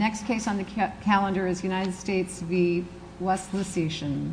The next case on the calendar is United States v. West Lusitian.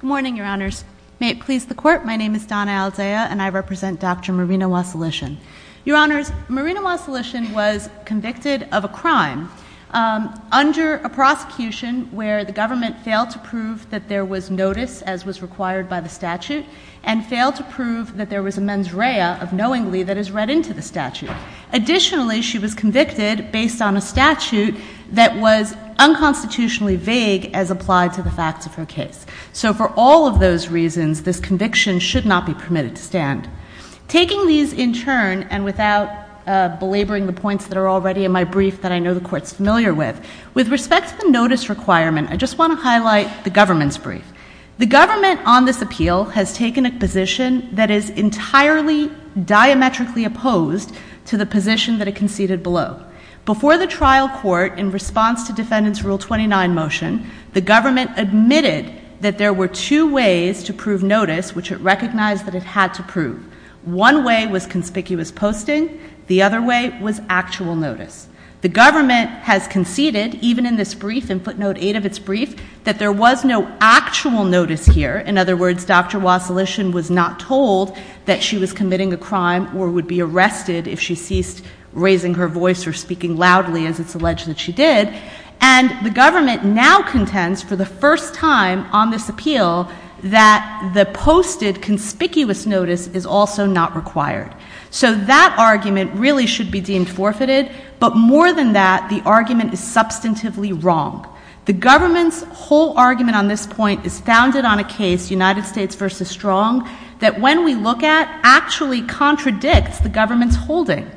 Good morning, your honors. May it please the court, my name is Donna Aldea and I represent Dr. Marina Wasilisian. Your honors, Marina Wasilisian was convicted of a crime under a prosecution where the government failed to prove that there was notice as was required by the statute and failed to prove that there was a mens rea of knowingly that is read into the statute. Additionally, she was convicted based on a statute that was unconstitutionally vague as applied to the facts of her case. So for all of those reasons, this conviction should not be permitted to stand. Taking these in turn and without belaboring the points that are already in my brief that I know the court is familiar with, with respect to the notice requirement, I just want to highlight the government's brief. The government on this appeal has taken a position that is entirely diametrically opposed to the position that it conceded below. Before the trial court, in response to Defendant's Rule 29 motion, the government admitted that there were two ways to prove notice, which it recognized that it had to prove. One way was conspicuous posting. The other way was actual notice. The government has conceded, even in this brief, in footnote 8 of its brief, that there was no actual notice here. In other words, Dr. Wasilishin was not told that she was committing a crime or would be arrested if she ceased raising her voice or speaking loudly as it's alleged that she did. And the government now contends for the first time on this appeal that the posted conspicuous notice is also not required. So that argument really should be deemed forfeited. But more than that, the argument is substantively wrong. The government's whole argument on this point is founded on a case, United States v. Strong, that when we look at actually contradicts the government's holding.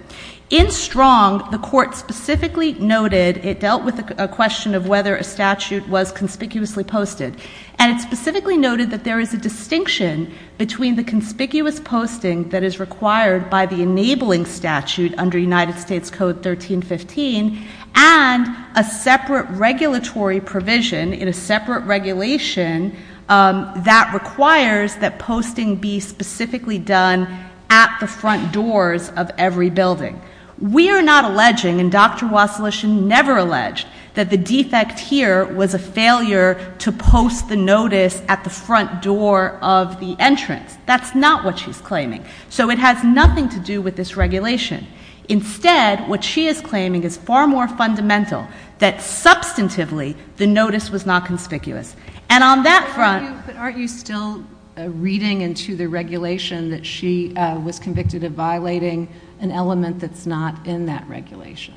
In Strong, the court specifically noted it dealt with a question of whether a statute was conspicuously posted. And it specifically noted that there is a distinction between the conspicuous posting that is required by the enabling statute under United States Code 1315 and a separate regulatory provision in a separate regulation that requires that posting be specifically done at the front doors of every building. We are not alleging, and Dr. Wasilishin never alleged, that the defect here was a failure to post the notice at the front door of the entrance. That's not what she's claiming. So it has nothing to do with this regulation. Instead, what she is claiming is far more fundamental, that substantively the notice was not conspicuous. And on that front — But aren't you still reading into the regulation that she was convicted of violating an element that's not in that regulation?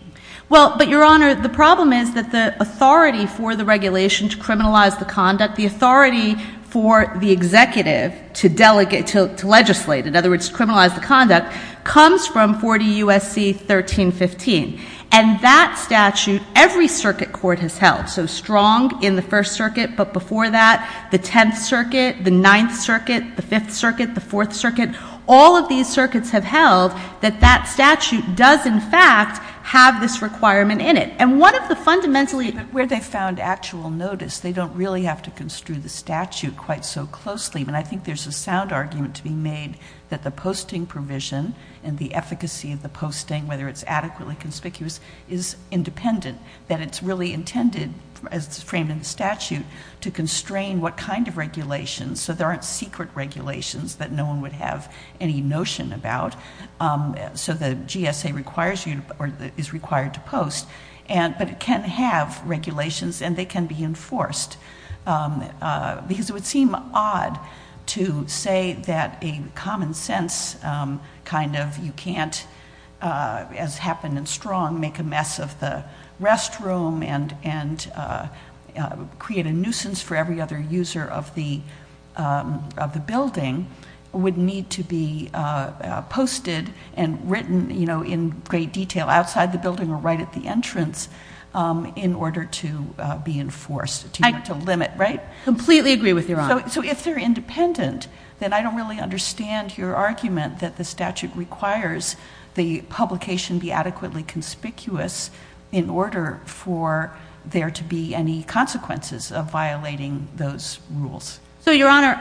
Well, but, Your Honor, the problem is that the authority for the regulation to criminalize the conduct, the authority for the executive to legislate, in other words, criminalize the conduct, comes from 40 U.S.C. 1315. And that statute, every circuit court has held, so strong in the First Circuit but before that, the Tenth Circuit, the Ninth Circuit, the Fifth Circuit, the Fourth Circuit, all of these circuits have held that that statute does, in fact, have this requirement in it. And one of the fundamentally — But where they found actual notice, they don't really have to construe the statute quite so closely. And I think there's a sound argument to be made that the posting provision and the efficacy of the posting, whether it's adequately conspicuous, is independent, that it's really intended, as it's framed in the statute, to constrain what kind of regulations. So there aren't secret regulations that no one would have any notion about. So the GSA requires you or is required to post. But it can have regulations, and they can be enforced. Because it would seem odd to say that a common sense kind of, you can't, as happened in Strong, make a mess of the restroom and create a nuisance for every other user of the building, would need to be posted and written in great detail outside the building or right at the entrance in order to be enforced, to limit, right? I completely agree with Your Honor. So if they're independent, then I don't really understand your argument that the statute requires the publication be adequately conspicuous in order for there to be any consequences of violating those rules. So, Your Honor,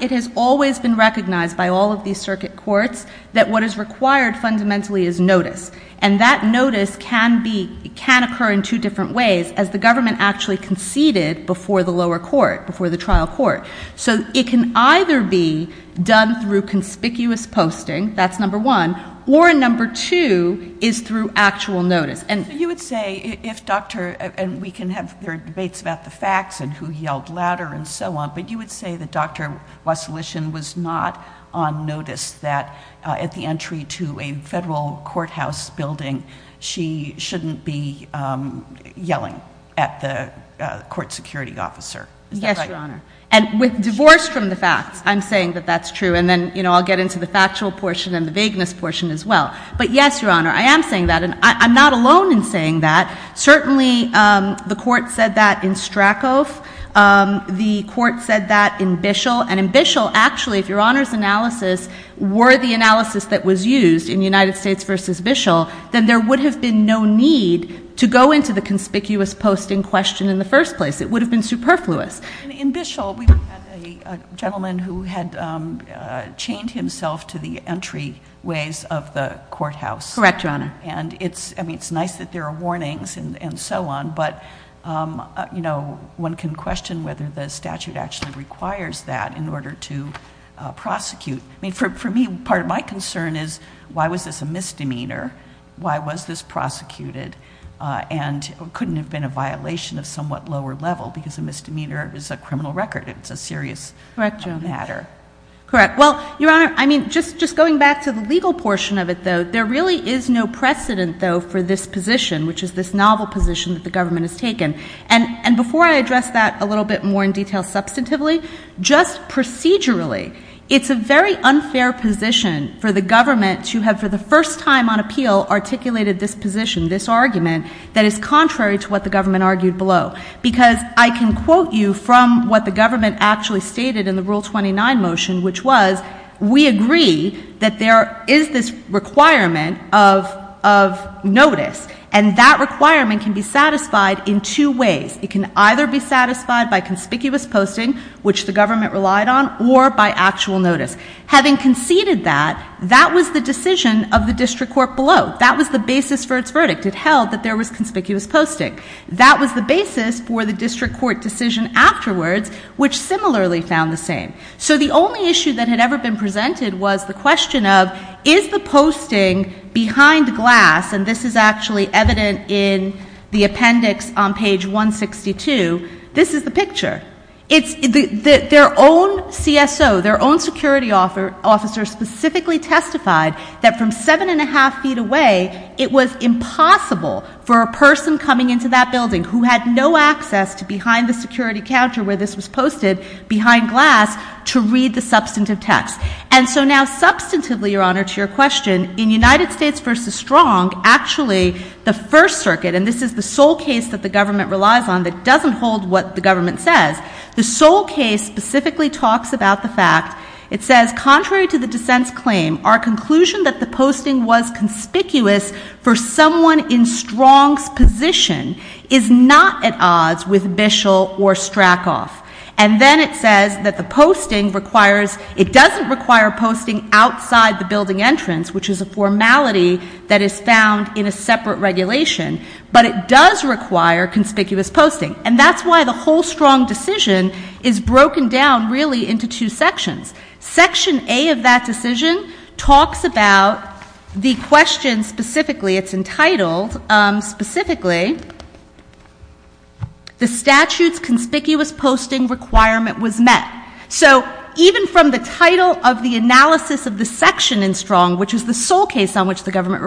it has always been recognized by all of these circuit courts that what is required fundamentally is notice. And that notice can occur in two different ways, as the government actually conceded before the lower court, before the trial court. So it can either be done through conspicuous posting, that's number one, or number two is through actual notice. You would say, if Dr. — and we can have debates about the facts and who yelled louder and so on, but you would say that Dr. Wasilishin was not on notice that, at the entry to a federal courthouse building, she shouldn't be yelling at the court security officer. Yes, Your Honor. And with divorce from the facts, I'm saying that that's true. And then, you know, I'll get into the factual portion and the vagueness portion as well. But yes, Your Honor, I am saying that. And I'm not alone in saying that. Certainly, the court said that in Strakov. The court said that in Bishel. And in Bishel, actually, if Your Honor's analysis were the analysis that was used in United States v. Bishel, then there would have been no need to go into the conspicuous posting question in the first place. It would have been superfluous. In Bishel, we had a gentleman who had chained himself to the entryways of the courthouse. Correct, Your Honor. And it's nice that there are warnings and so on, but, you know, one can question whether the statute actually requires that in order to prosecute. I mean, for me, part of my concern is why was this a misdemeanor? Why was this prosecuted? And it couldn't have been a violation of somewhat lower level because a misdemeanor is a criminal record. It's a serious matter. Correct, Your Honor. Correct. Well, Your Honor, I mean, just going back to the legal portion of it, though, there really is no precedent, though, for this position, which is this novel position that the government has taken. And before I address that a little bit more in detail substantively, just procedurally, it's a very unfair position for the government to have, for the first time on appeal, articulated this position, this argument, that is contrary to what the government argued below. Because I can quote you from what the government actually stated in the Rule 29 motion, which was, we agree that there is this requirement of notice, and that requirement can be satisfied in two ways. It can either be satisfied by conspicuous posting, which the government relied on, or by actual notice. Having conceded that, that was the decision of the district court below. That was the basis for its verdict. It held that there was conspicuous posting. That was the basis for the district court decision afterwards, which similarly found the same. So the only issue that had ever been presented was the question of, is the posting behind glass, and this is actually evident in the appendix on page 162, this is the picture. Their own CSO, their own security officer specifically testified that from seven and a half feet away, it was impossible for a person coming into that building who had no access to behind the security counter where this was posted, behind glass, to read the substantive text. And so now substantively, Your Honor, to your question, in United States v. Strong, actually the First Circuit, and this is the sole case that the government relies on that doesn't hold what the government says, the sole case specifically talks about the fact, it says, contrary to the dissent's claim, our conclusion that the posting was conspicuous for someone in Strong's position is not at odds with Bishel or Stracoff. And then it says that the posting requires, it doesn't require posting outside the building entrance, which is a formality that is found in a separate regulation, but it does require conspicuous posting. And that's why the whole Strong decision is broken down really into two sections. Section A of that decision talks about the question specifically, it's entitled specifically, the statute's conspicuous posting requirement was met. So even from the title of the analysis of the section in Strong, which is the sole case on which the government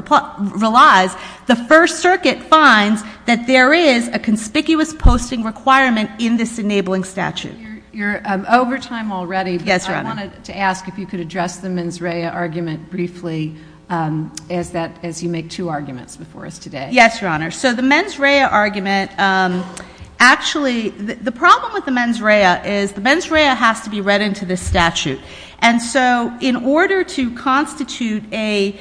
relies, the First Circuit finds that there is a conspicuous posting requirement in this enabling statute. You're over time already. Yes, Your Honor. I wanted to ask if you could address the mens rea argument briefly as you make two arguments before us today. Yes, Your Honor. So the mens rea argument, actually the problem with the mens rea is the mens rea has to be read into the statute. And so in order to constitute a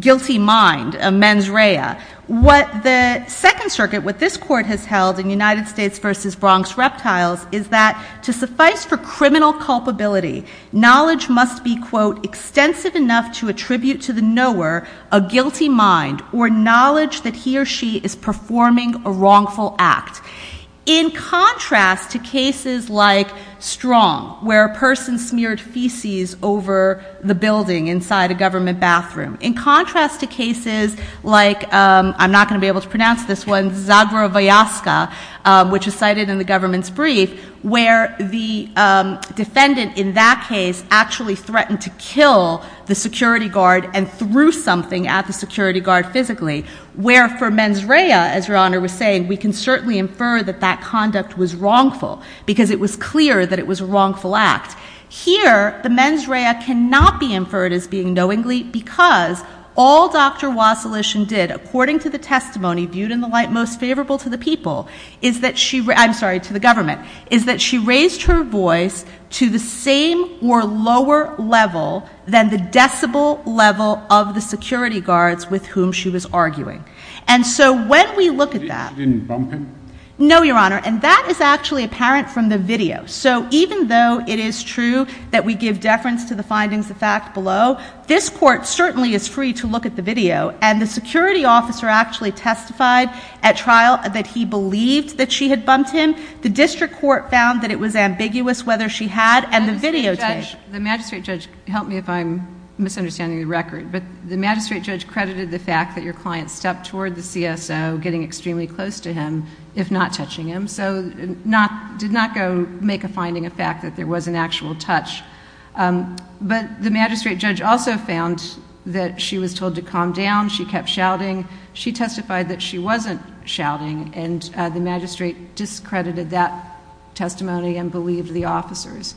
guilty mind, a mens rea, what the Second Circuit, what this court has held in United States versus Bronx Reptiles, is that to suffice for criminal culpability, knowledge must be, quote, extensive enough to attribute to the knower a guilty mind or knowledge that he or she is performing a wrongful act. In contrast to cases like Strong, where a person smeared feces over the building inside a government bathroom, in contrast to cases like, I'm not going to be able to pronounce this one, Zagrovayaska, which is cited in the government's brief, where the defendant in that case actually threatened to kill the security guard and threw something at the security guard physically, where for mens rea, as Your Honor was saying, we can certainly infer that that conduct was wrongful because it was clear that it was a wrongful act. Here, the mens rea cannot be inferred as being knowingly because all Dr. Wasilishin did, according to the testimony viewed in the light most favorable to the people, is that she, I'm sorry, to the government, is that she raised her voice to the same or lower level than the decibel level of the security guards with whom she was arguing. And so when we look at that. Did she bump him? No, Your Honor. And that is actually apparent from the video. So even though it is true that we give deference to the findings of fact below, this court certainly is free to look at the video. And the security officer actually testified at trial that he believed that she had bumped him. The district court found that it was ambiguous whether she had, and the video did. The magistrate judge, help me if I'm misunderstanding the record, but the magistrate judge credited the fact that your client stepped toward the CSO, getting extremely close to him, if not touching him. So did not go make a finding of fact that there was an actual touch. But the magistrate judge also found that she was told to calm down. She kept shouting. She testified that she wasn't shouting, and the magistrate discredited that testimony and believed the officers.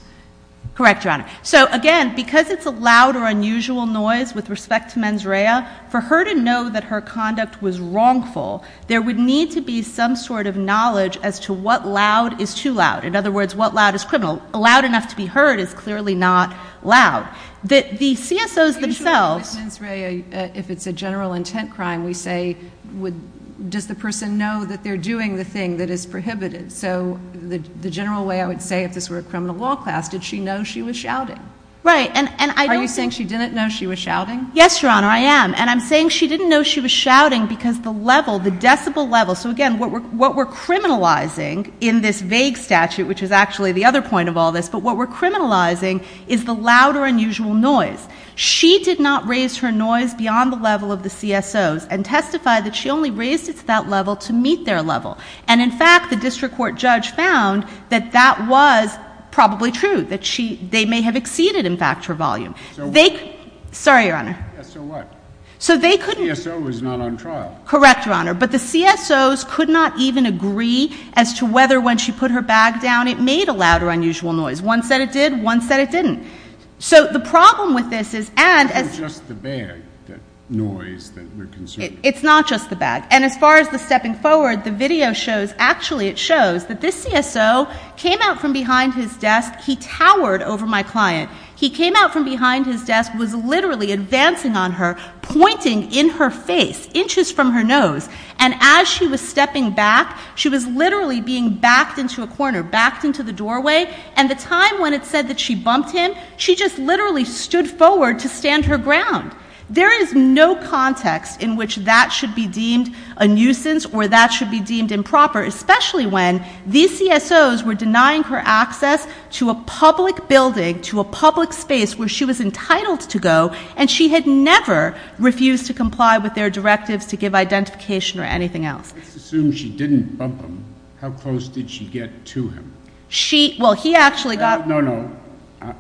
Correct, Your Honor. So, again, because it's a loud or unusual noise with respect to mens rea, for her to know that her conduct was wrongful, there would need to be some sort of knowledge as to what loud is too loud. In other words, what loud is criminal. Loud enough to be heard is clearly not loud. The CSOs themselves. If it's a general intent crime, we say, does the person know that they're doing the thing that is prohibited? So the general way I would say if this were a criminal law class, did she know she was shouting? Right. Are you saying she didn't know she was shouting? Yes, Your Honor, I am. And I'm saying she didn't know she was shouting because the level, the decibel level. So, again, what we're criminalizing in this vague statute, which is actually the other point of all this, but what we're criminalizing is the loud or unusual noise. She did not raise her noise beyond the level of the CSOs and testified that she only raised it to that level to meet their level. And, in fact, the district court judge found that that was probably true, that they may have exceeded, in fact, her volume. So what? Sorry, Your Honor. So what? So they couldn't. The CSO was not on trial. Correct, Your Honor. But the CSOs could not even agree as to whether when she put her bag down it made a loud or unusual noise. One said it did. One said it didn't. So the problem with this is and as... It's not just the bag, the noise that we're considering. It's not just the bag. And as far as the stepping forward, the video shows, actually it shows, that this CSO came out from behind his desk. He towered over my client. He came out from behind his desk, was literally advancing on her, pointing in her face, inches from her nose. And as she was stepping back, she was literally being backed into a corner, backed into the doorway. And the time when it said that she bumped him, she just literally stood forward to stand her ground. There is no context in which that should be deemed a nuisance or that should be deemed improper, especially when these CSOs were denying her access to a public building, to a public space where she was entitled to go, and she had never refused to comply with their directives to give identification or anything else. Let's assume she didn't bump him. How close did she get to him? She... Well, he actually got... No, no.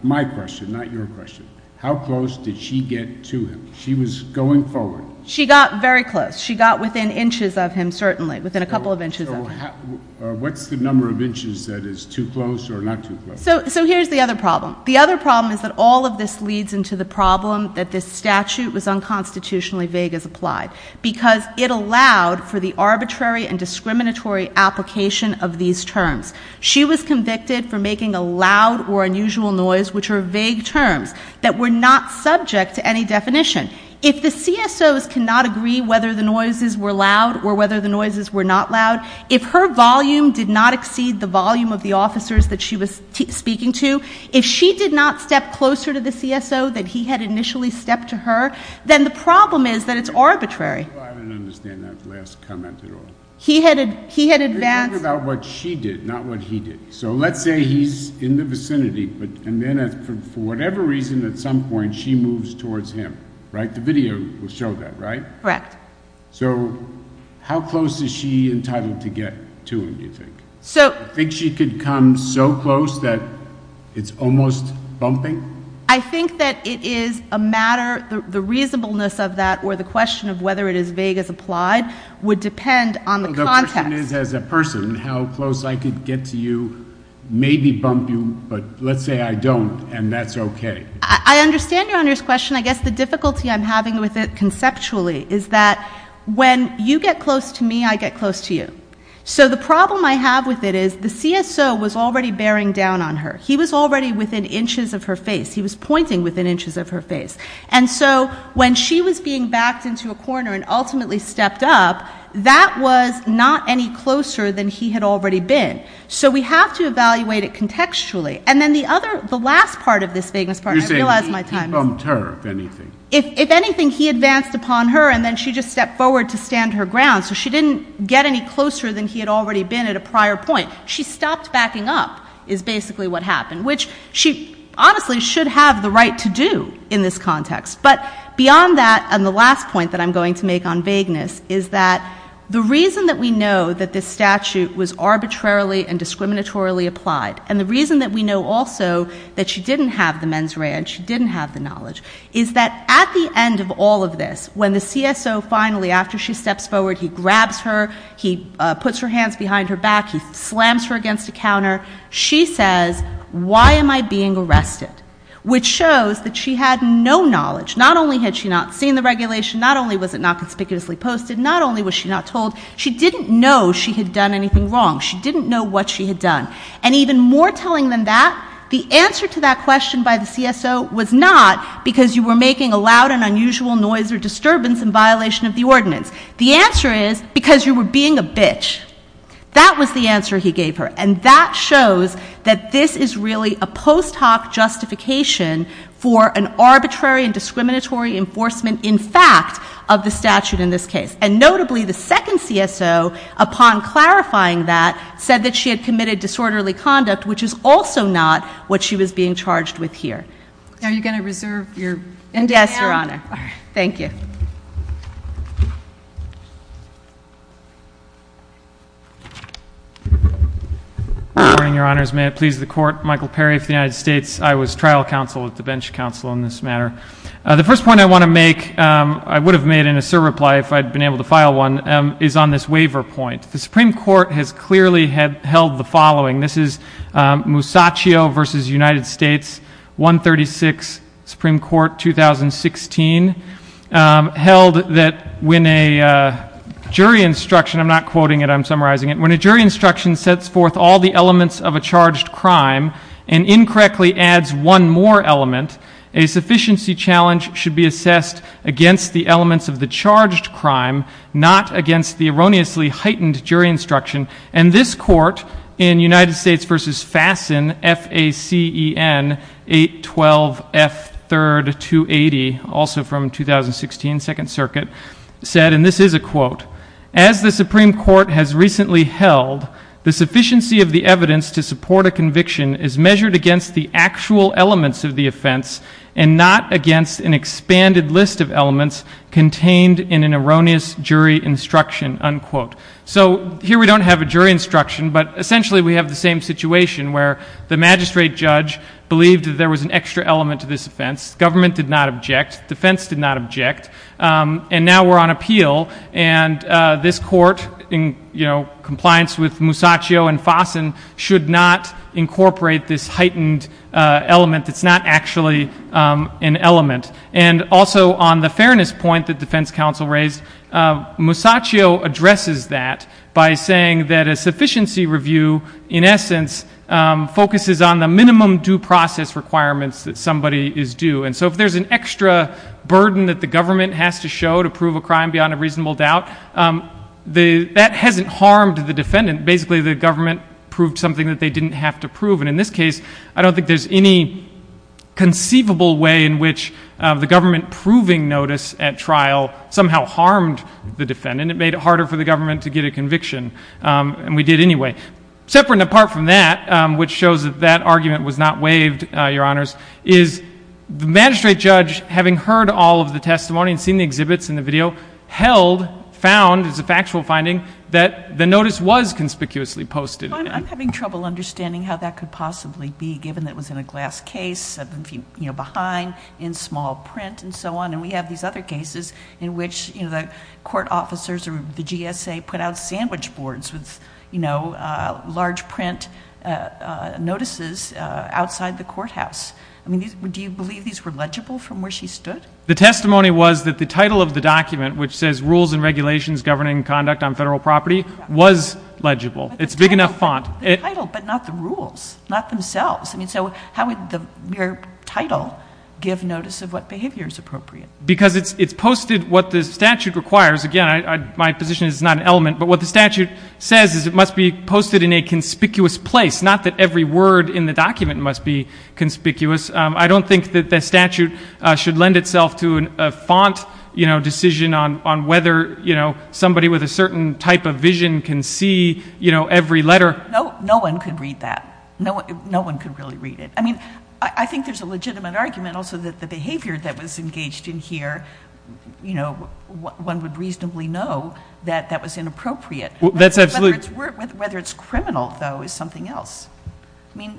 My question, not your question. How close did she get to him? She was going forward. She got very close. She got within inches of him, certainly, within a couple of inches of him. What's the number of inches that is too close or not too close? So here's the other problem. The other problem is that all of this leads into the problem that this statute was unconstitutionally vague as applied because it allowed for the arbitrary and discriminatory application of these terms. She was convicted for making a loud or unusual noise, which are vague terms, that were not subject to any definition. If the CSOs cannot agree whether the noises were loud or whether the noises were not loud, if her volume did not exceed the volume of the officers that she was speaking to, if she did not step closer to the CSO than he had initially stepped to her, then the problem is that it's arbitrary. I don't understand that last comment at all. He had advanced... I'm talking about what she did, not what he did. So let's say he's in the vicinity, and then for whatever reason at some point she moves towards him, right? The video will show that, right? Correct. So how close is she entitled to get to him, do you think? I think she could come so close that it's almost bumping. I think that it is a matter... The reasonableness of that or the question of whether it is vague as applied would depend on the context. The question is as a person how close I could get to you, maybe bump you, but let's say I don't and that's okay. I understand Your Honor's question. I guess the difficulty I'm having with it conceptually is that when you get close to me, I get close to you. So the problem I have with it is the CSO was already bearing down on her. He was already within inches of her face. He was pointing within inches of her face. And so when she was being backed into a corner and ultimately stepped up, that was not any closer than he had already been. So we have to evaluate it contextually. And then the last part of this vagueness part, I realize my time is up. You're saying he bumped her, if anything. If anything, he advanced upon her, and then she just stepped forward to stand her ground. So she didn't get any closer than he had already been at a prior point. She stopped backing up is basically what happened, which she honestly should have the right to do in this context. But beyond that, and the last point that I'm going to make on vagueness, is that the reason that we know that this statute was arbitrarily and discriminatorily applied and the reason that we know also that she didn't have the mens rea and she didn't have the knowledge is that at the end of all of this, when the CSO finally, after she steps forward, he grabs her, he puts her hands behind her back, he slams her against a counter, she says, why am I being arrested? Which shows that she had no knowledge. Not only had she not seen the regulation, not only was it not conspicuously posted, not only was she not told, she didn't know she had done anything wrong. She didn't know what she had done. And even more telling than that, the answer to that question by the CSO was not because you were making a loud and unusual noise or disturbance in violation of the ordinance. The answer is because you were being a bitch. That was the answer he gave her. And that shows that this is really a post hoc justification for an arbitrary and discriminatory enforcement, in fact, of the statute in this case. And notably, the second CSO, upon clarifying that, said that she had committed disorderly conduct, which is also not what she was being charged with here. Are you going to reserve your hand? Yes, Your Honor. Thank you. Good morning, Your Honors. May it please the Court, Michael Perry of the United States. I was trial counsel at the bench counsel in this matter. The first point I want to make, I would have made in a sub-reply if I had been able to file one, is on this waiver point. The Supreme Court has clearly held the following. This is Musacchio v. United States, 136, Supreme Court, 2016, held that when a jury instruction, I'm not quoting it, but I'm summarizing it, when a jury instruction sets forth all the elements of a charged crime and incorrectly adds one more element, a sufficiency challenge should be assessed against the elements of the charged crime, not against the erroneously heightened jury instruction. And this Court, in United States v. Fassen, F-A-C-E-N, 812F, 3rd, 280, also from 2016, Second Circuit, said, and this is a quote, as the Supreme Court has recently held, the sufficiency of the evidence to support a conviction is measured against the actual elements of the offense and not against an expanded list of elements contained in an erroneous jury instruction, unquote. So here we don't have a jury instruction, but essentially we have the same situation where the magistrate judge believed that there was an extra element to this offense, government did not object, defense did not object, and now we're on appeal and this Court, in compliance with Musacchio and Fassen, should not incorporate this heightened element that's not actually an element. And also on the fairness point that defense counsel raised, Musacchio addresses that by saying that a sufficiency review, in essence, focuses on the minimum due process requirements that somebody is due. And so if there's an extra burden that the government has to show to prove a crime beyond a reasonable doubt, that hasn't harmed the defendant. Basically, the government proved something that they didn't have to prove. And in this case, I don't think there's any conceivable way in which the government proving notice at trial somehow harmed the defendant. It made it harder for the government to get a conviction, and we did anyway. Separate and apart from that, which shows that that argument was not waived, Your Honors, is the magistrate judge, having heard all of the testimony and seen the exhibits in the video, held, found, as a factual finding, that the notice was conspicuously posted. Well, I'm having trouble understanding how that could possibly be, given that it was in a glass case, you know, behind, in small print, and so on. And we have these other cases in which, you know, the court officers or the GSA put out sandwich boards with, you know, large print notices outside the courthouse. I mean, do you believe these were legible from where she stood? The testimony was that the title of the document, which says Rules and Regulations Governing Conduct on Federal Property, was legible. It's big enough font. The title, but not the rules, not themselves. I mean, so how would your title give notice of what behavior is appropriate? Because it's posted what the statute requires. Again, my position is it's not an element. But what the statute says is it must be posted in a conspicuous place, not that every word in the document must be conspicuous. I don't think that the statute should lend itself to a font, you know, decision on whether, you know, somebody with a certain type of vision can see, you know, every letter. No one could read that. No one could really read it. I mean, I think there's a legitimate argument also that the behavior that was engaged in here, you know, one would reasonably know that that was inappropriate. Whether it's criminal, though, is something else.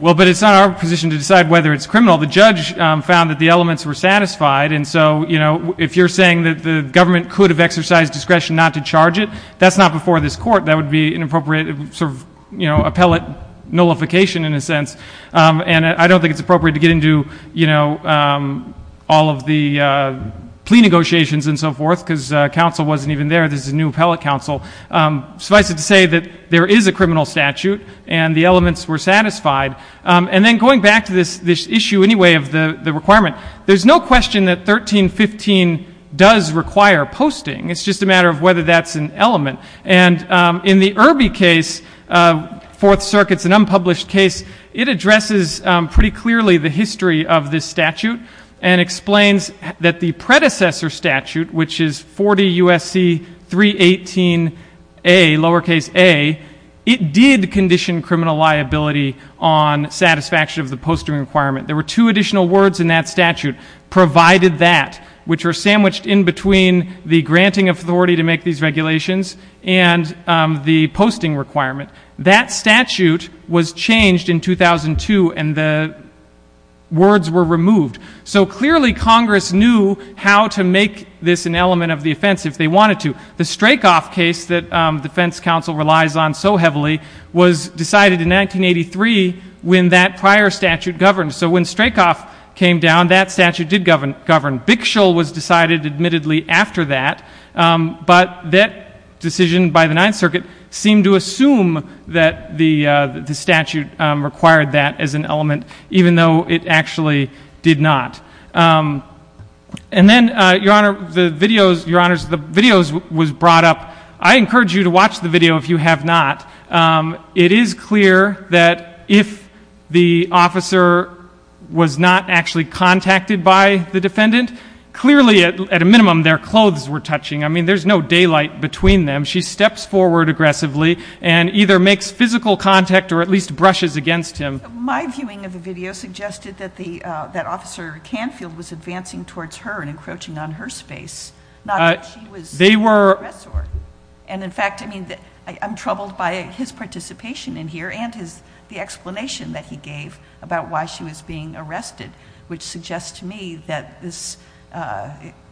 Well, but it's not our position to decide whether it's criminal. The judge found that the elements were satisfied. And so, you know, if you're saying that the government could have exercised discretion not to charge it, that's not before this Court. That would be an appropriate sort of, you know, appellate nullification in a sense. And I don't think it's appropriate to get into, you know, all of the plea negotiations and so forth, because counsel wasn't even there. This is a new appellate counsel. Suffice it to say that there is a criminal statute and the elements were satisfied. And then going back to this issue anyway of the requirement, there's no question that 1315 does require posting. And in the Irby case, Fourth Circuit's an unpublished case, it addresses pretty clearly the history of this statute and explains that the predecessor statute, which is 40 U.S.C. 318a, lowercase a, it did condition criminal liability on satisfaction of the posting requirement. There were two additional words in that statute, provided that, which were sandwiched in between the granting of authority to make these regulations and the posting requirement. That statute was changed in 2002 and the words were removed. So clearly Congress knew how to make this an element of the offense if they wanted to. The Strakoff case that defense counsel relies on so heavily was decided in 1983 when that prior statute governed. So when Strakoff came down, that statute did govern. Bickshall was decided admittedly after that. But that decision by the Ninth Circuit seemed to assume that the statute required that as an element, even though it actually did not. And then, Your Honor, the videos was brought up. I encourage you to watch the video if you have not. It is clear that if the officer was not actually contacted by the defendant, clearly at a minimum their clothes were touching. I mean, there's no daylight between them. She steps forward aggressively and either makes physical contact or at least brushes against him. My viewing of the video suggested that Officer Canfield was advancing towards her and encroaching on her space, not that she was the aggressor. And, in fact, I'm troubled by his participation in here and the explanation that he gave about why she was being arrested, which suggests to me that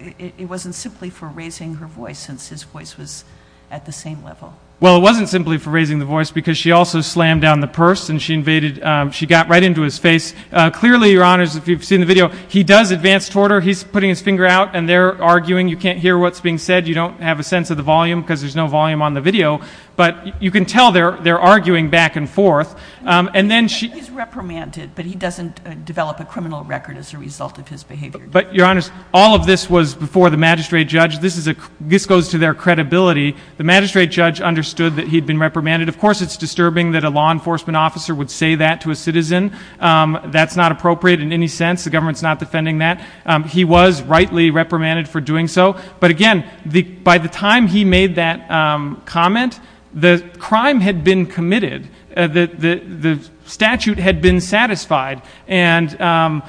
it wasn't simply for raising her voice since his voice was at the same level. Well, it wasn't simply for raising the voice because she also slammed down the purse and she invaded. She got right into his face. Clearly, Your Honors, if you've seen the video, he does advance toward her. He's putting his finger out and they're arguing. You can't hear what's being said. You don't have a sense of the volume because there's no volume on the video. But you can tell they're arguing back and forth. He's reprimanded, but he doesn't develop a criminal record as a result of his behavior. But, Your Honors, all of this was before the magistrate judge. This goes to their credibility. The magistrate judge understood that he'd been reprimanded. Of course, it's disturbing that a law enforcement officer would say that to a citizen. That's not appropriate in any sense. The government's not defending that. He was rightly reprimanded for doing so. But, again, by the time he made that comment, the crime had been committed. The statute had been satisfied. And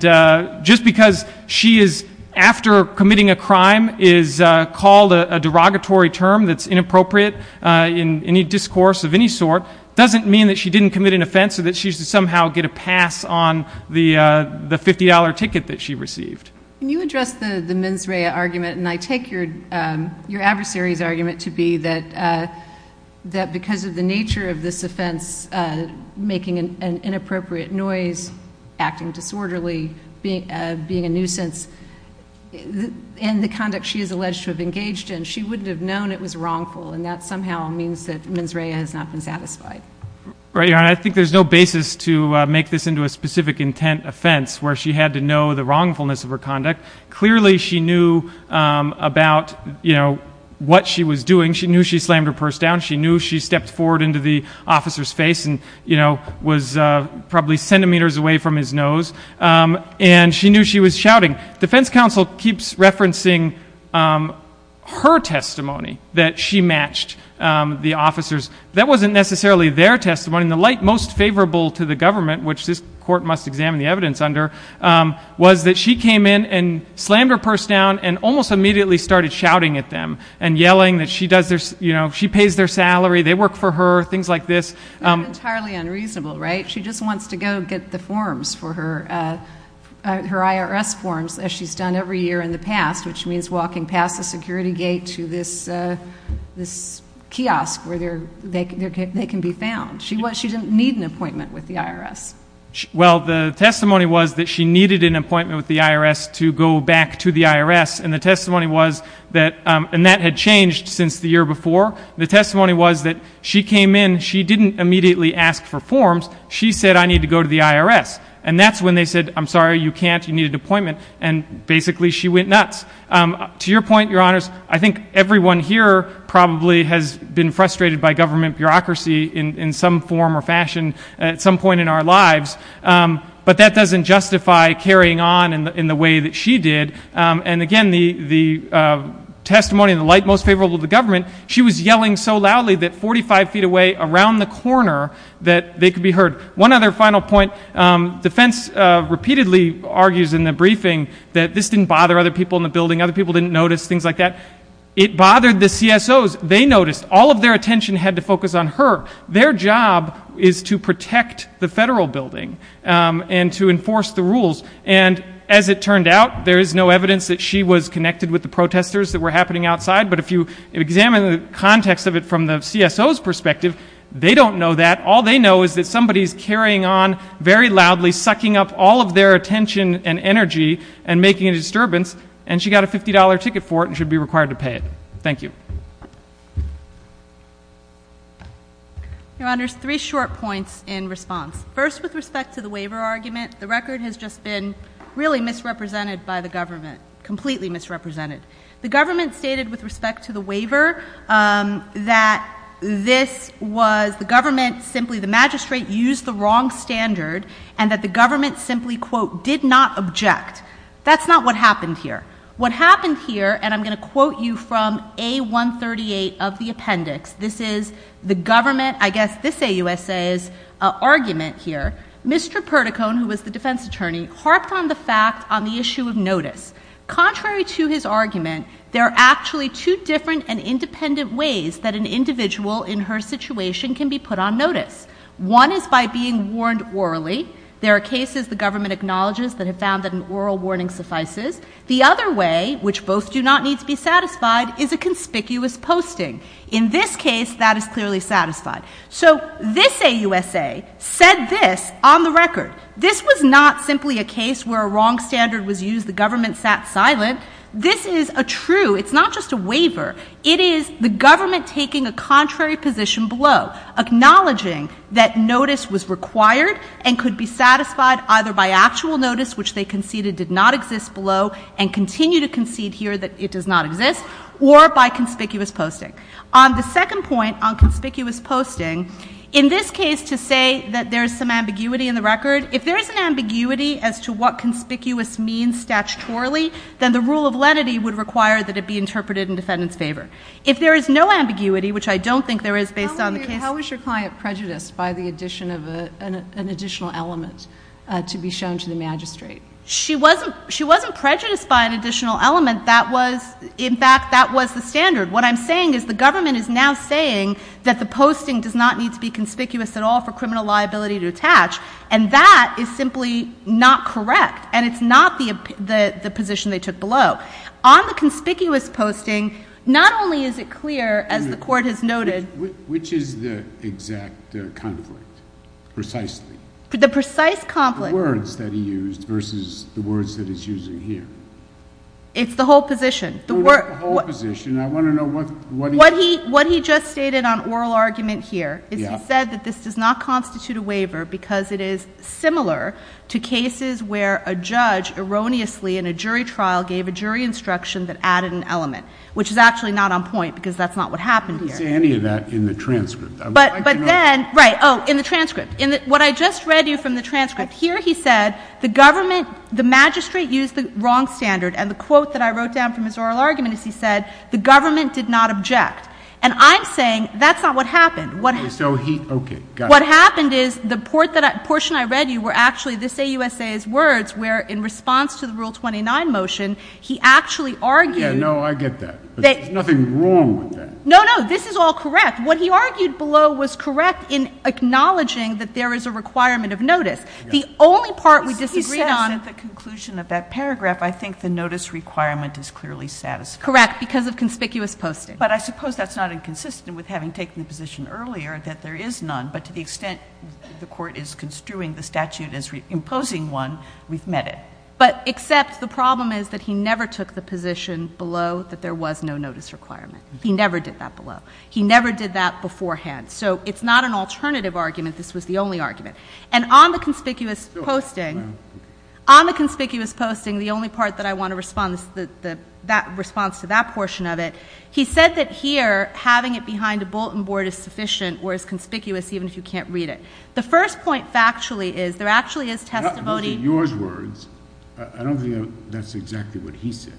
just because she is, after committing a crime, is called a derogatory term that's inappropriate in any discourse of any sort, doesn't mean that she didn't commit an offense or that she should somehow get a pass on the $50 ticket that she received. Can you address the Menzraya argument? And I take your adversary's argument to be that because of the nature of this offense, making an inappropriate noise, acting disorderly, being a nuisance, and the conduct she is alleged to have engaged in, she wouldn't have known it was wrongful, and that somehow means that Menzraya has not been satisfied. Right, Your Honor. I mean, I think there's no basis to make this into a specific intent offense where she had to know the wrongfulness of her conduct. Clearly, she knew about what she was doing. She knew she slammed her purse down. She knew she stepped forward into the officer's face and was probably centimeters away from his nose. And she knew she was shouting. Defense counsel keeps referencing her testimony that she matched the officer's. That wasn't necessarily their testimony. The light most favorable to the government, which this court must examine the evidence under, was that she came in and slammed her purse down and almost immediately started shouting at them and yelling that she pays their salary, they work for her, things like this. Entirely unreasonable, right? She just wants to go get the forms for her, her IRS forms, as she's done every year in the past, which means walking past the security gate to this kiosk where they can be found. She didn't need an appointment with the IRS. Well, the testimony was that she needed an appointment with the IRS to go back to the IRS, and the testimony was that that had changed since the year before. The testimony was that she came in, she didn't immediately ask for forms. She said, I need to go to the IRS. And that's when they said, I'm sorry, you can't, you need an appointment. And basically she went nuts. To your point, Your Honors, I think everyone here probably has been frustrated by government bureaucracy in some form or fashion at some point in our lives, but that doesn't justify carrying on in the way that she did. And again, the testimony in the light most favorable to the government, she was yelling so loudly that 45 feet away around the corner that they could be heard. One other final point. Defense repeatedly argues in the briefing that this didn't bother other people in the building, other people didn't notice, things like that. It bothered the CSOs. They noticed. All of their attention had to focus on her. Their job is to protect the federal building and to enforce the rules. And as it turned out, there is no evidence that she was connected with the protesters that were happening outside. But if you examine the context of it from the CSO's perspective, they don't know that. All they know is that somebody is carrying on very loudly, sucking up all of their attention and energy and making a disturbance, and she got a $50 ticket for it and should be required to pay it. Thank you. Your Honors, three short points in response. First, with respect to the waiver argument, the record has just been really misrepresented by the government, completely misrepresented. The government stated with respect to the waiver that this was the government simply, the magistrate used the wrong standard, and that the government simply, quote, did not object. That's not what happened here. What happened here, and I'm going to quote you from A138 of the appendix. This is the government, I guess this AUSA's argument here. Mr. Perdicone, who was the defense attorney, harped on the fact on the issue of notice. Contrary to his argument, there are actually two different and independent ways that an individual in her situation can be put on notice. One is by being warned orally. There are cases the government acknowledges that have found that an oral warning suffices. The other way, which both do not need to be satisfied, is a conspicuous posting. In this case, that is clearly satisfied. So this AUSA said this on the record. This was not simply a case where a wrong standard was used. The government sat silent. This is a true, it's not just a waiver. It is the government taking a contrary position below, acknowledging that notice was required and could be satisfied either by actual notice, which they conceded did not exist below and continue to concede here that it does not exist, or by conspicuous posting. On the second point, on conspicuous posting, in this case to say that there is some ambiguity in the record, if there is an ambiguity as to what conspicuous means statutorily, then the rule of lenity would require that it be interpreted in defendant's favor. If there is no ambiguity, which I don't think there is based on the case. How was your client prejudiced by the addition of an additional element to be shown to the magistrate? She wasn't prejudiced by an additional element. In fact, that was the standard. What I'm saying is the government is now saying that the posting does not need to be conspicuous at all for criminal liability to attach, and that is simply not correct. And it's not the position they took below. On the conspicuous posting, not only is it clear, as the Court has noted Which is the exact conflict, precisely? The precise conflict. The words that he used versus the words that it's using here. It's the whole position. The whole position. I want to know what he What he just stated on oral argument here is he said that this does not constitute a waiver because it is similar to cases where a judge erroneously in a jury trial gave a jury instruction that added an element, which is actually not on point because that's not what happened here. I didn't say any of that in the transcript. But then, right, oh, in the transcript. What I just read to you from the transcript, here he said the government, the magistrate used the wrong standard. And the quote that I wrote down from his oral argument is he said, the government did not object. And I'm saying that's not what happened. So he, okay, got it. What happened is the portion I read to you were actually this AUSA's words where in response to the Rule 29 motion, he actually argued Yeah, no, I get that. There's nothing wrong with that. No, no, this is all correct. What he argued below was correct in acknowledging that there is a requirement of notice. The only part we disagreed on Because he says at the conclusion of that paragraph, I think the notice requirement is clearly satisfied. Correct, because of conspicuous posting. But I suppose that's not inconsistent with having taken the position earlier that there is none, but to the extent the court is construing the statute as imposing one, we've met it. But except the problem is that he never took the position below that there was no notice requirement. He never did that below. He never did that beforehand. So it's not an alternative argument. This was the only argument. And on the conspicuous posting, on the conspicuous posting, the only part that I want to respond to that portion of it, he said that here having it behind a bulletin board is sufficient or is conspicuous even if you can't read it. The first point factually is there actually is testimony Those are yours words. I don't think that's exactly what he said.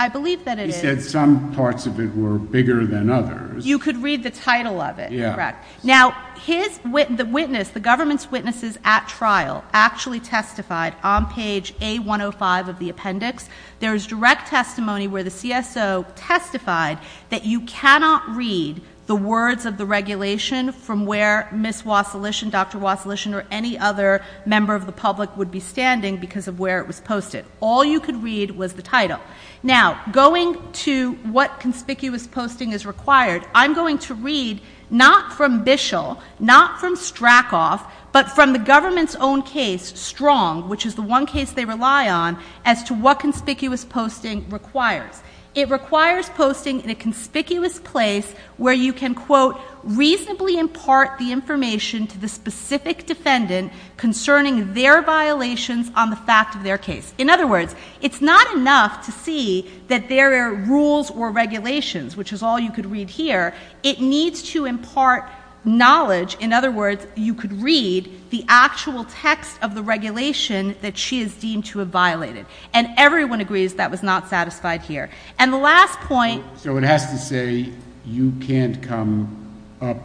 I believe that it is. He said some parts of it were bigger than others. You could read the title of it. Yeah. Correct. Now, the government's witnesses at trial actually testified on page A-105 of the appendix. There is direct testimony where the CSO testified that you cannot read the words of the regulation from where Ms. Wassilish and Dr. Wassilish or any other member of the public would be standing because of where it was posted. All you could read was the title. Now, going to what conspicuous posting is required, I'm going to read not from Bishel, not from Stracoff, but from the government's own case, Strong, which is the one case they rely on, as to what conspicuous posting requires. It requires posting in a conspicuous place where you can, quote, reasonably impart the information to the specific defendant concerning their violations on the fact of their case. In other words, it's not enough to see that there are rules or regulations, which is all you could read here. It needs to impart knowledge. In other words, you could read the actual text of the regulation that she is deemed to have violated. And everyone agrees that was not satisfied here. And the last point... So it has to say you can't come up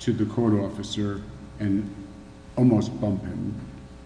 to the court officer and almost bump him.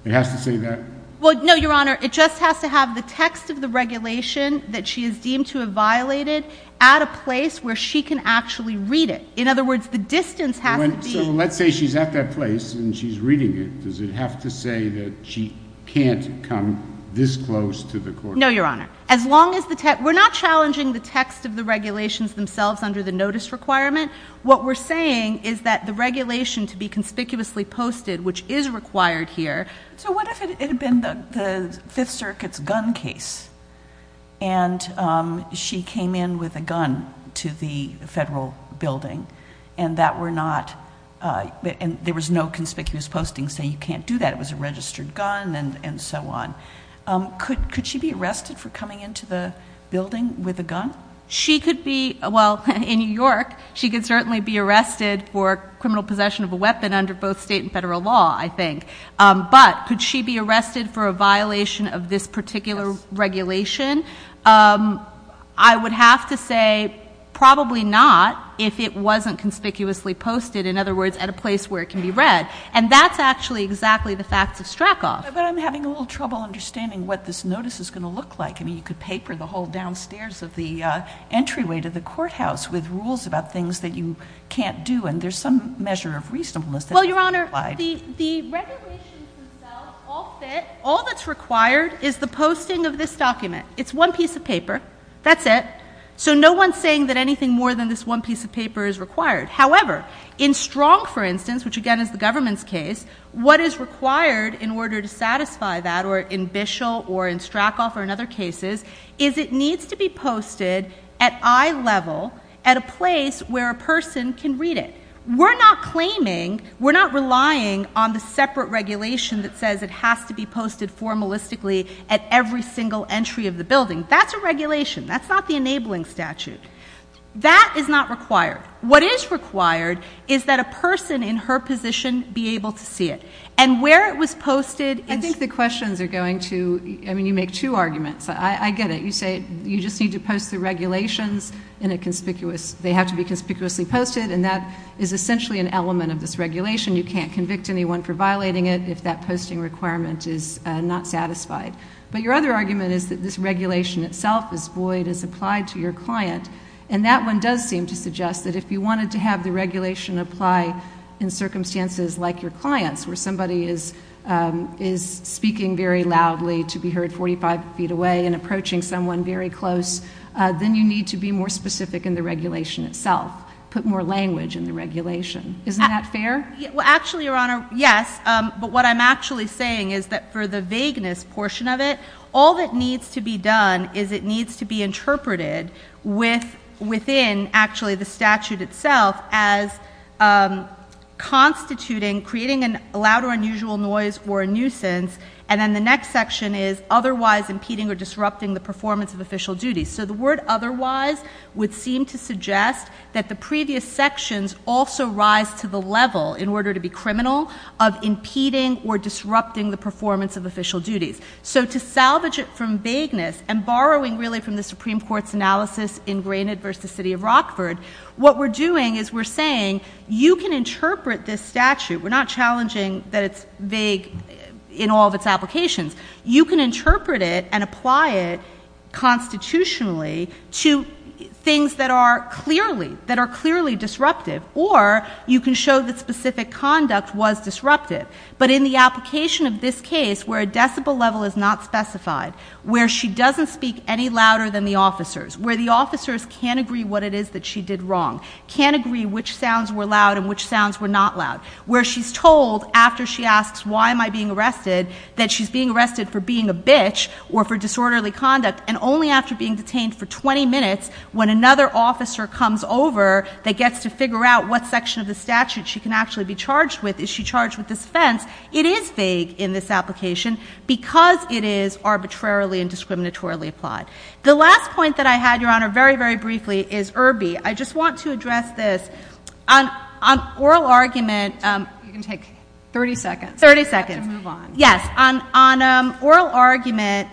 It has to say that? Well, no, Your Honor. It just has to have the text of the regulation that she is deemed to have violated at a place where she can actually read it. In other words, the distance has to be... So let's say she's at that place and she's reading it. Does it have to say that she can't come this close to the court? No, Your Honor. We're not challenging the text of the regulations themselves under the notice requirement. What we're saying is that the regulation to be conspicuously posted, which is required here... So what if it had been the Fifth Circuit's gun case and she came in with a gun to the federal building and that were not... And there was no conspicuous posting saying you can't do that. It was a registered gun and so on. Could she be arrested for coming into the building with a gun? She could be... Well, in New York, she could certainly be arrested for criminal possession of a weapon under both state and federal law, I think. But could she be arrested for a violation of this particular regulation? I would have to say probably not if it wasn't conspicuously posted, in other words, at a place where it can be read. And that's actually exactly the facts of Strackhoff. But I'm having a little trouble understanding what this notice is going to look like. I mean, you could paper the whole downstairs of the entryway to the courthouse with rules about things that you can't do, and there's some measure of reasonableness... Well, Your Honor, the regulations themselves all fit. All that's required is the posting of this document. It's one piece of paper. That's it. So no-one's saying that anything more than this one piece of paper is required. However, in Strong, for instance, which, again, is the government's case, what is required in order to satisfy that, or in Bishel or in Strackhoff or in other cases, is it needs to be posted at eye level at a place where a person can read it. We're not claiming, we're not relying on the separate regulation that says it has to be posted formalistically at every single entry of the building. That's a regulation. That's not the enabling statute. That is not required. What is required is that a person in her position be able to see it. And where it was posted... I think the questions are going to... I mean, you make two arguments. I get it. You say you just need to post the regulations in a conspicuous... They have to be conspicuously posted, and that is essentially an element of this regulation. You can't convict anyone for violating it if that posting requirement is not satisfied. But your other argument is that this regulation itself is void as applied to your client. And that one does seem to suggest that if you wanted to have the regulation apply in circumstances like your client's, where somebody is speaking very loudly to be heard 45 feet away and approaching someone very close, then you need to be more specific in the regulation itself, put more language in the regulation. Isn't that fair? Well, actually, Your Honor, yes. But what I'm actually saying is that for the vagueness portion of it, all that needs to be done is it needs to be interpreted within, actually, the statute itself as constituting... creating a loud or unusual noise or a nuisance. And then the next section is otherwise impeding or disrupting the performance of official duties. So the word otherwise would seem to suggest that the previous sections also rise to the level, in order to be criminal, of impeding or disrupting the performance of official duties. So to salvage it from vagueness and borrowing, really, from the Supreme Court's analysis in Granite v. City of Rockford, what we're doing is we're saying you can interpret this statute. We're not challenging that it's vague in all of its applications. You can interpret it and apply it constitutionally to things that are clearly disruptive. Or you can show that specific conduct was disruptive. But in the application of this case, where a decibel level is not specified, where she doesn't speak any louder than the officers, where the officers can't agree what it is that she did wrong, can't agree which sounds were loud and which sounds were not loud, where she's told, after she asks, why am I being arrested, that she's being arrested for being a bitch or for disorderly conduct, and only after being detained for 20 minutes, when another officer comes over that gets to figure out what section of the statute she can actually be charged with, is she charged with this offense, it is vague in this application because it is arbitrarily and discriminatorily applied. The last point that I had, Your Honor, very, very briefly, is Irby. I just want to address this. On oral argument... You can take 30 seconds. 30 seconds. Yes, on oral argument,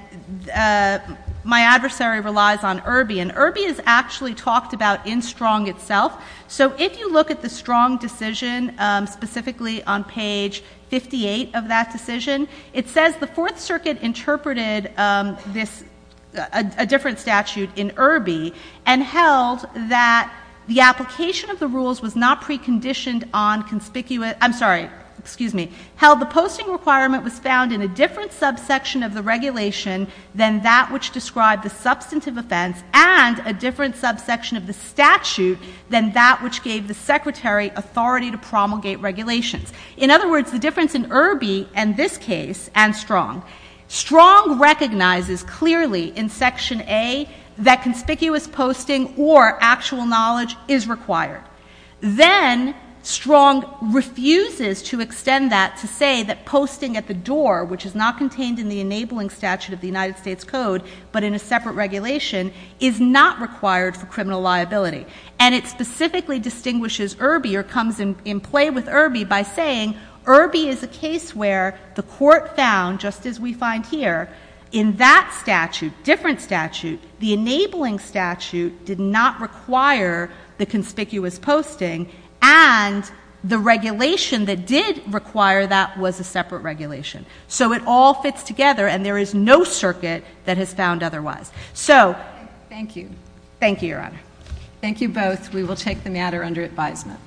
my adversary relies on Irby, and Irby is actually talked about in Strong itself. So if you look at the Strong decision, specifically on page 58 of that decision, it says the Fourth Circuit interpreted a different statute in Irby and held that the application of the rules was not preconditioned on conspicuous... I'm sorry. Excuse me. ...held the posting requirement was found in a different subsection of the regulation than that which described the substantive offense and a different subsection of the statute than that which gave the secretary authority to promulgate regulations. In other words, the difference in Irby, and this case, and Strong. Strong recognizes clearly in Section A that conspicuous posting or actual knowledge is required. Then Strong refuses to extend that to say that posting at the door, which is not contained in the enabling statute of the United States Code, but in a separate regulation, is not required for criminal liability. And it specifically distinguishes Irby or comes in play with Irby by saying Irby is a case where the court found, just as we find here, in that statute, different statute, the enabling statute did not require the conspicuous posting, and the regulation that did require that was a separate regulation. So it all fits together, and there is no circuit that has found otherwise. So... Thank you. Thank you, Your Honor. Thank you both. We will take the matter under advisement.